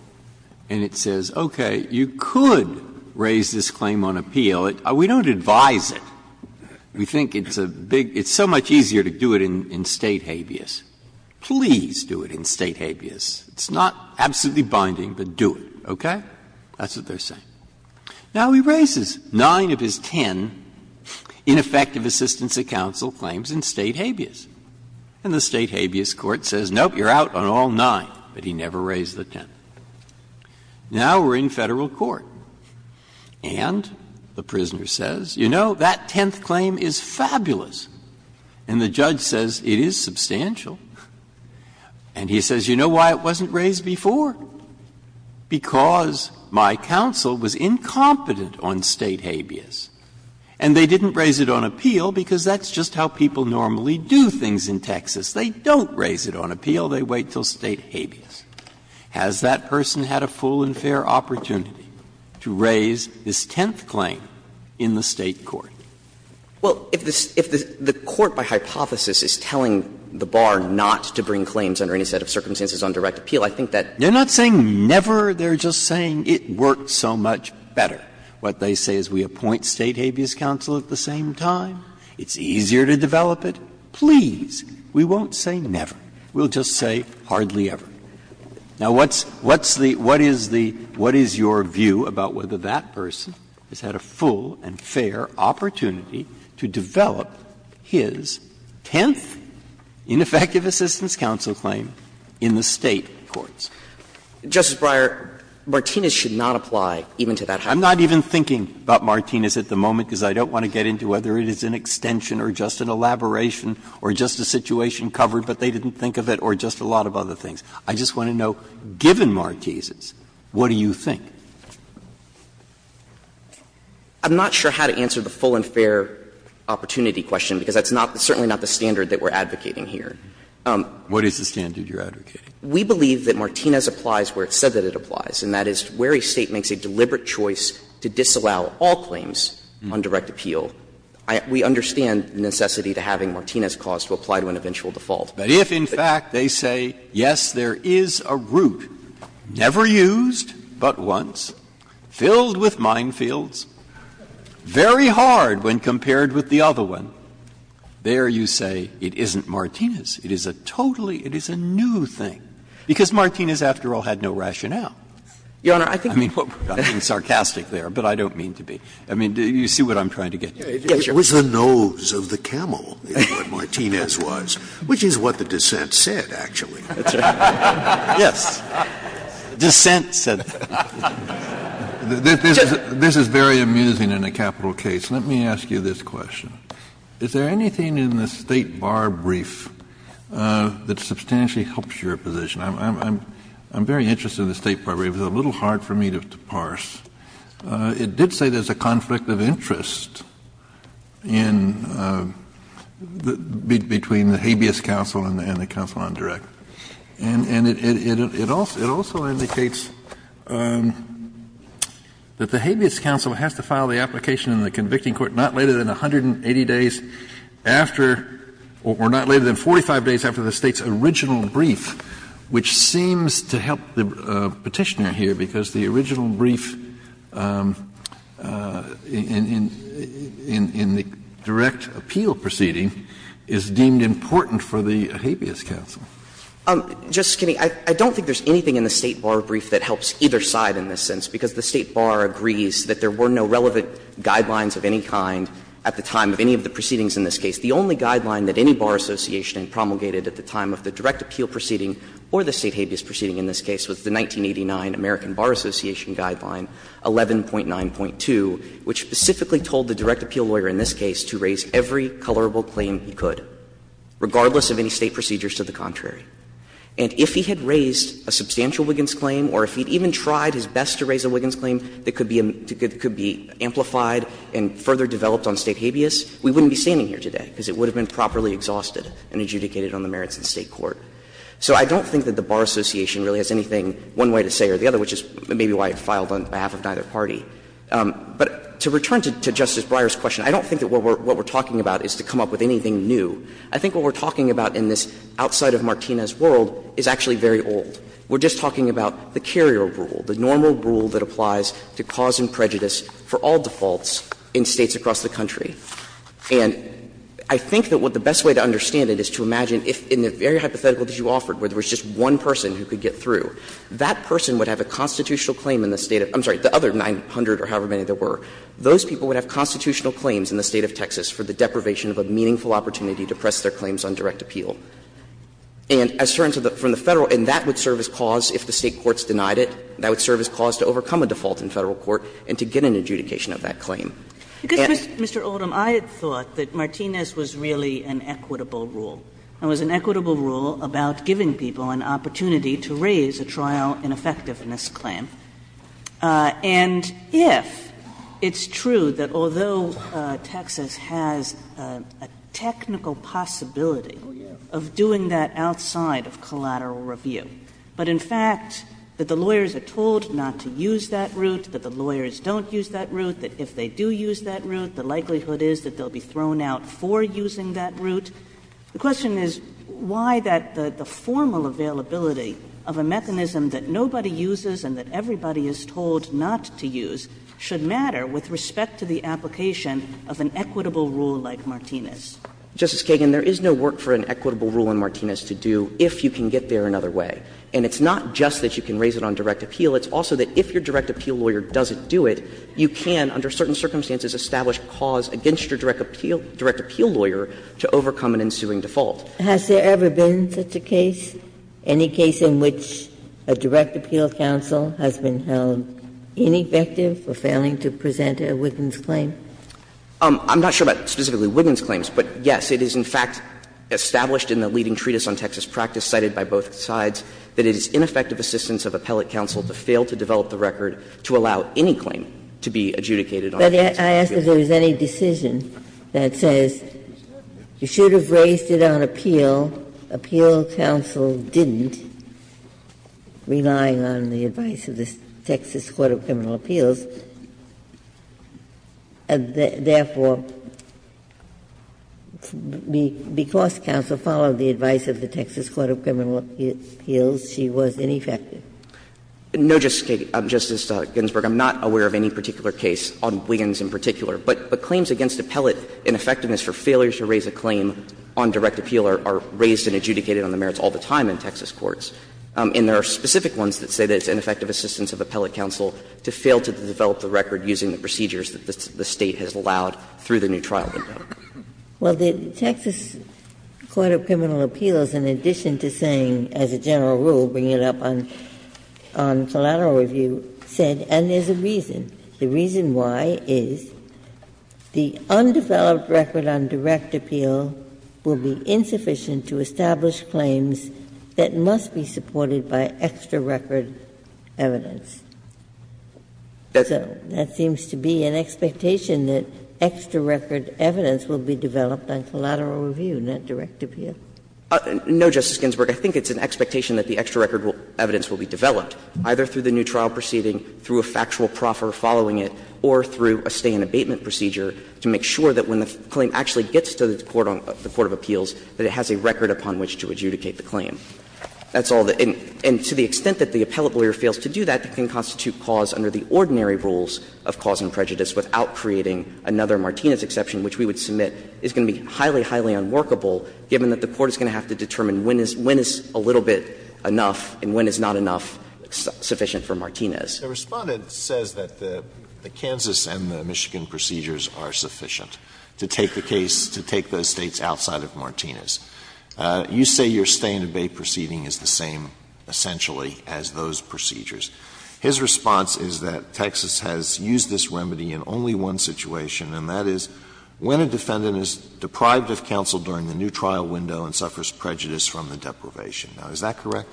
and it says, okay, you could raise this claim on appeal. We don't advise it. We think it's a big – it's so much easier to do it in State habeas. Please do it in State habeas. It's not absolutely binding, but do it, okay? That's what they are saying. Now, he raises nine of his ten ineffective assistance of counsel claims in State habeas. And the State habeas court says, nope, you are out on all nine, but he never raised the ten. Now we are in Federal court, and the prisoner says, you know, that tenth claim is fabulous. And the judge says, it is substantial. And he says, you know why it wasn't raised before? Because my counsel was incompetent on State habeas, and they didn't raise it on appeal because that's just how people normally do things in Texas. They don't raise it on appeal. They wait until State habeas. Has that person had a full and fair opportunity to raise this tenth claim in the State court? Well, if the Court, by hypothesis, is telling the bar not to bring claims under any set of circumstances on direct appeal, I think that that's what they are saying. Breyer, they are not saying never, they are just saying it worked so much better. What they say is we appoint State habeas counsel at the same time, it's easier to develop it, please, we won't say never, we will just say hardly ever. Now, what's the what is the what is your view about whether that person has had a full and fair opportunity to develop his tenth ineffective assistance counsel claim in the State courts? Justice Breyer, Martinez should not apply even to that. I'm not even thinking about Martinez at the moment, because I don't want to get into whether it is an extension or just an elaboration or just a situation covered, but they didn't think of it, or just a lot of other things. I just want to know, given Martinez's, what do you think? I'm not sure how to answer the full and fair opportunity question, because that's not certainly not the standard that we are advocating here. What is the standard you are advocating? We believe that Martinez applies where it said that it applies, and that is where a State makes a deliberate choice to disallow all claims on direct appeal, we understand the necessity to having Martinez cause to apply to an eventual default. But if in fact they say, yes, there is a route never used but once, filled with minefields, very hard when compared with the other one, there you say it isn't Martinez. It is a totally, it is a new thing, because Martinez, after all, had no rationale. I mean, I'm being sarcastic there, but I don't mean to be. I mean, do you see what I'm trying to get at? It was the nose of the camel, is what Martinez was, which is what the dissent said, actually. Yes, dissent said that. This is very amusing in a capital case. Let me ask you this question. Is there anything in the State bar brief that substantially helps your position? I'm very interested in the State bar brief. It was a little hard for me to parse. It did say there's a conflict of interest in, between the habeas counsel and the counsel on direct. And it also indicates that the habeas counsel has to file the application in the convicting court not later than 180 days after, or not later than 45 days after the State's original brief in the direct appeal proceeding is deemed important for the habeas counsel. Just kidding. I don't think there's anything in the State bar brief that helps either side in this sense, because the State bar agrees that there were no relevant guidelines of any kind at the time of any of the proceedings in this case. The only guideline that any bar association promulgated at the time of the direct appeal proceeding or the State habeas proceeding in this case was the 1989 American Bar Association Guideline 11.9.2, which specifically told the direct appeal lawyer in this case to raise every colorable claim he could, regardless of any State procedures to the contrary. And if he had raised a substantial Wiggins claim or if he had even tried his best to raise a Wiggins claim that could be amplified and further developed on State habeas, we wouldn't be standing here today, because it would have been properly exhausted and adjudicated on the merits of the State court. So I don't think that the bar association really has anything, one way to say or the other, which is maybe why it filed on behalf of neither party. But to return to Justice Breyer's question, I don't think that what we're talking about is to come up with anything new. I think what we're talking about in this outside-of-Martinez world is actually very old. We're just talking about the carrier rule, the normal rule that applies to cause and prejudice for all defaults in States across the country. And I think that the best way to understand it is to imagine if in the very hypothetical that you offered, where there was just one person who could get through, that person would have a constitutional claim in the State of the other 900 or however many there were, those people would have constitutional claims in the State of Texas for the deprivation of a meaningful opportunity to press their claims on direct appeal. And that would serve as cause, if the State courts denied it, that would serve as cause to overcome a default in Federal court and to get an adjudication of that claim. Because, Mr. Oldham, I had thought that Martinez was really an equitable rule. It was an equitable rule about giving people an opportunity to raise a trial ineffectiveness claim, and if it's true that although Texas has a technical possibility of doing that outside of collateral review, but in fact that the lawyers are told not to use that route, that the lawyers don't use that route, that if they do use that route, the likelihood is that they'll be thrown out for using that route. The question is why that the formal availability of a mechanism that nobody uses and that everybody is told not to use should matter with respect to the application of an equitable rule like Martinez? Justice Kagan, there is no work for an equitable rule in Martinez to do if you can get there another way. And it's not just that you can raise it on direct appeal. It's also that if your direct appeal lawyer doesn't do it, you can, under certain circumstances, establish a cause against your direct appeal lawyer to overcome an ensuing default. Ginsburg, has there ever been such a case, any case in which a direct appeal counsel has been held ineffective for failing to present a Wiggins claim? I'm not sure about specifically Wiggins claims, but, yes, it is in fact established in the leading treatise on Texas practice cited by both sides that it is ineffective assistance of appellate counsel to fail to develop the record to allow any claim to be adjudicated. But I ask if there is any decision that says you should have raised it on appeal, appeal counsel didn't, relying on the advice of the Texas Court of Criminal Appeals, and therefore, because counsel followed the advice of the Texas Court of Criminal Appeals, she was ineffective. No, Justice Ginsburg, I'm not aware of any particular case on Wiggins in particular. But claims against appellate ineffectiveness for failure to raise a claim on direct appeal are raised and adjudicated on the merits all the time in Texas courts. And there are specific ones that say that it's ineffective assistance of appellate counsel to fail to develop the record using the procedures that the State has allowed through the new trial window. Well, the Texas Court of Criminal Appeals, in addition to saying, as a general rule, bringing it up on collateral review, said, and there's a reason. The reason why is the undeveloped record on direct appeal will be insufficient to establish claims that must be supported by extra-record evidence. So that seems to be an expectation, that extra-record evidence will be developed on collateral review, not direct appeal. No, Justice Ginsburg. I think it's an expectation that the extra-record evidence will be developed, either through the new trial proceeding, through a factual proffer following it, or through a stay-in-abatement procedure to make sure that when the claim actually gets to the court of appeals, that it has a record upon which to adjudicate the claim. That's all. And to the extent that the appellate lawyer fails to do that, it can constitute cause under the ordinary rules of cause and prejudice without creating another Martinez exception, which we would submit is going to be highly, highly unworkable given that the court is going to have to determine when is a little bit enough and when is not enough sufficient for Martinez. Alito, the Respondent says that the Kansas and the Michigan procedures are sufficient to take the case, to take those States outside of Martinez. You say your stay-in-abate proceeding is the same, essentially, as those procedures. His response is that Texas has used this remedy in only one situation, and that is, when a defendant is deprived of counsel during the new trial window and suffers prejudice from the deprivation. Now, is that correct?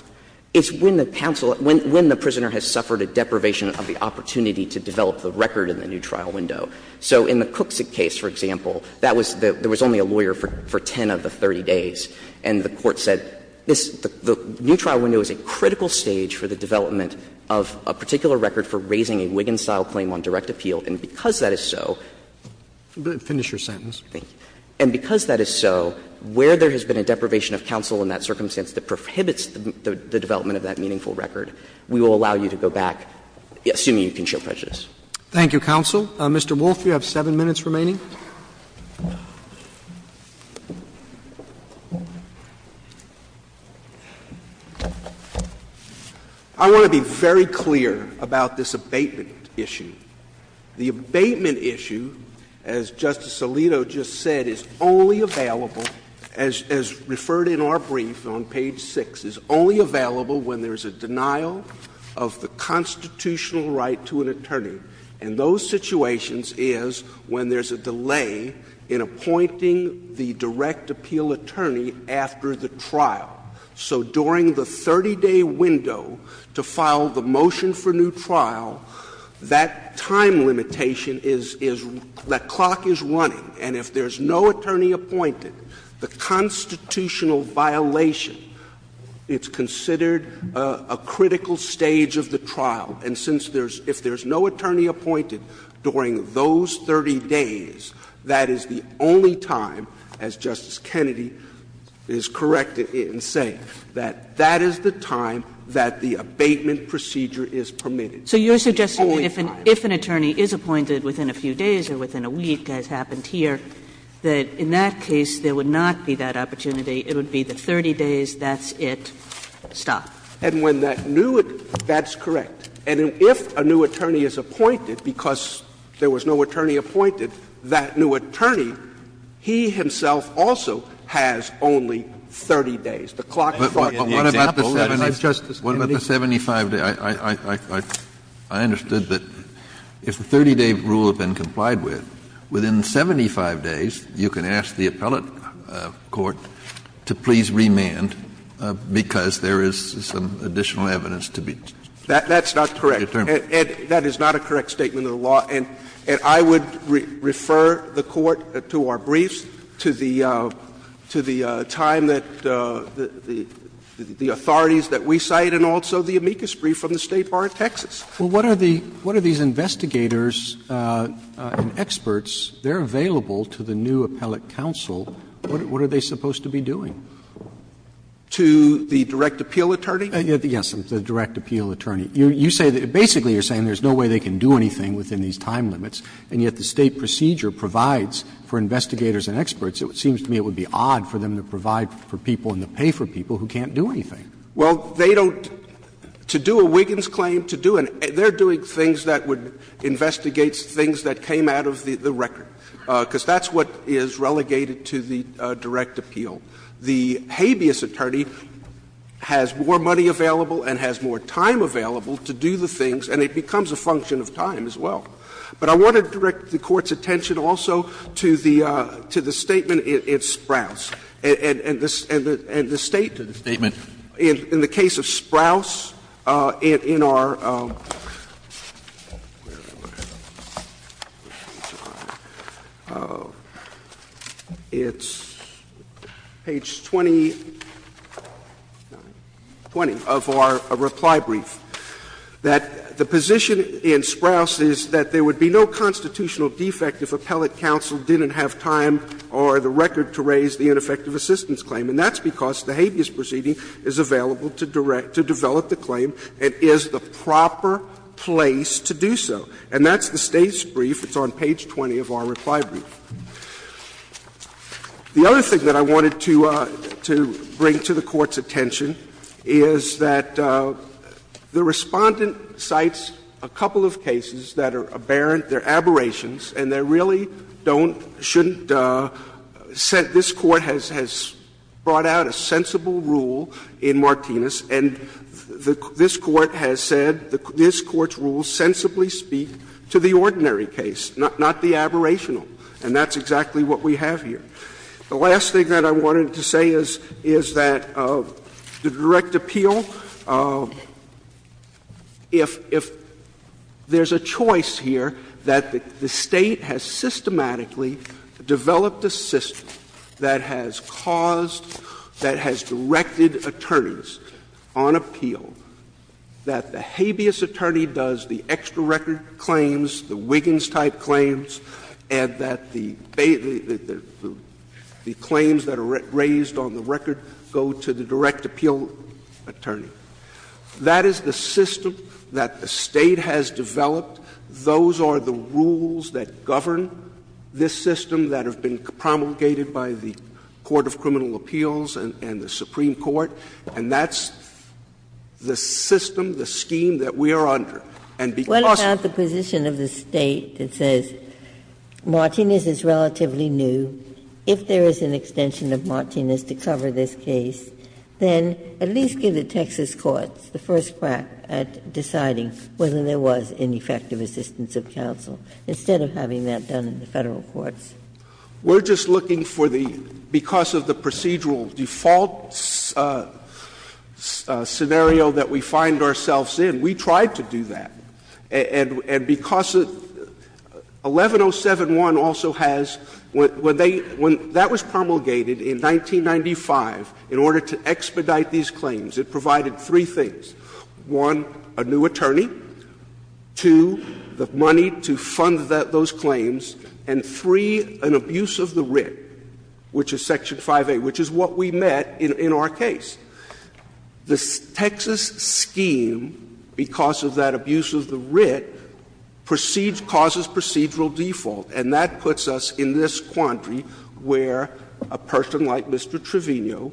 It's when the counsel at the prisoner has suffered a deprivation of the opportunity to develop the record in the new trial window. So in the Cook's case, for example, there was only a lawyer for 10 of the 30 days, and the court said this, the new trial window is a critical stage for the development of a particular record for raising a Wiggins-style claim on direct appeal, and because that is so. Finish your sentence. Thank you. And because that is so, where there has been a deprivation of counsel in that circumstance that prohibits the development of that meaningful record, we will allow you to go back, assuming you can show prejudice. Thank you, counsel. Mr. Wolf, you have 7 minutes remaining. I want to be very clear about this abatement issue. The abatement issue, as Justice Alito just said, is only available, as referred in our brief on page 6, is only available when there is a denial of the constitutional right to an attorney. And those situations is when there's a delay in appointing the direct appeal attorney after the trial. So during the 30-day window to file the motion for new trial, that time limitation is that clock is running, and if there's no attorney appointed, the constitutional violation, it's considered a critical stage of the trial. And since there's no attorney appointed during those 30 days, that is the only time, as Justice Kennedy is correct in saying, that that is the time that the abatement procedure is permitted. It's the only time. So you're suggesting that if an attorney is appointed within a few days or within a week, as happened here, that in that case there would not be that opportunity, it would be the 30 days, that's it, stop. And when that new attorney, that's correct. And if a new attorney is appointed, because there was no attorney appointed, that new attorney, he himself also has only 30 days. The clock is running. Kennedy, what about the 75 days? I understood that if the 30-day rule had been complied with, within 75 days, you can ask the appellate court to please remand because there is some additional evidence to be determined. That's not correct. And that is not a correct statement of the law. And I would refer the Court to our briefs, to the time that the authorities that we cite, and also the amicus brief from the State Bar in Texas. Roberts. Well, what are the — what are these investigators and experts, they're available to the new appellate counsel, what are they supposed to be doing? To the direct appeal attorney? Yes, the direct appeal attorney. You say that — basically you're saying there's no way they can do anything within these time limits, and yet the State procedure provides for investigators and experts. It seems to me it would be odd for them to provide for people and to pay for people who can't do anything. Well, they don't — to do a Wiggins claim, to do an — they're doing things that would investigate things that came out of the record, because that's what is relegated to the direct appeal. The habeas attorney has more money available and has more time available to do the things, and it becomes a function of time as well. But I want to direct the Court's attention also to the statement in Sprouse. And the State did a statement in the case of Sprouse in our — where were we? It's page 20 of our reply brief, that the position in Sprouse is that there would be no constitutional defect if appellate counsel didn't have time or the record to raise the ineffective assistance claim. And that's because the habeas proceeding is available to develop the claim and is the proper place to do so. And that's the State's brief. It's on page 20 of our reply brief. The other thing that I wanted to bring to the Court's attention is that the Respondent cites a couple of cases that are aberrant, they're aberrations, and they really don't — shouldn't set — this Court has brought out a sensible rule in Martinez, and this Court has said this Court's rules sensibly speak to the ordinary case, not the aberrational. And that's exactly what we have here. The last thing that I wanted to say is that the direct appeal, if there's a choice here that the State has systematically developed a system that has caused, that has directed attorneys on appeal, that the habeas attorney does the extra record claims, the Wiggins-type claims, and that the claims that are raised on the record go to the direct appeal attorney. That is the system that the State has developed. Those are the rules that govern this system that have been promulgated by the Court of Criminal Appeals and the Supreme Court, and that's the system, the scheme that we are under. And because of the — Ginsburg. What about the position of the State that says, Martinez is relatively new, if there is an extension of Martinez to cover this case, then at least give the Texas courts the first crack at deciding whether there was ineffective assistance of counsel, instead of having that done in the Federal courts? We're just looking for the — because of the procedural default scenario that we find ourselves in, we tried to do that. And because 11071 also has — when they — when that was promulgated in 1995, in order to expedite these claims, it provided three things. One, a new attorney. Two, the money to fund those claims. And three, an abuse of the writ, which is Section 5A, which is what we met in our case. The Texas scheme, because of that abuse of the writ, proceeds — causes procedural default, and that puts us in this quandary where a person like Mr. Trevino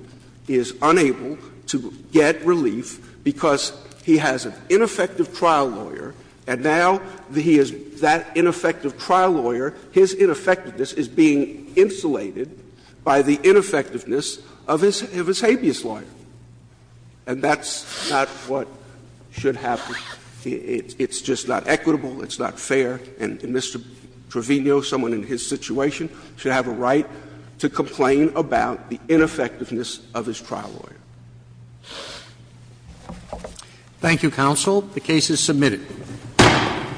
is unable to get relief because he has an ineffective trial lawyer, and now he is that ineffective trial lawyer. His ineffectiveness is being insulated by the ineffectiveness of his habeas lawyer. And that's not what should happen. It's just not equitable, it's not fair, and Mr. Trevino, someone in his situation, should have a right to complain about the ineffectiveness of his trial lawyer. Thank you, counsel. The case is submitted.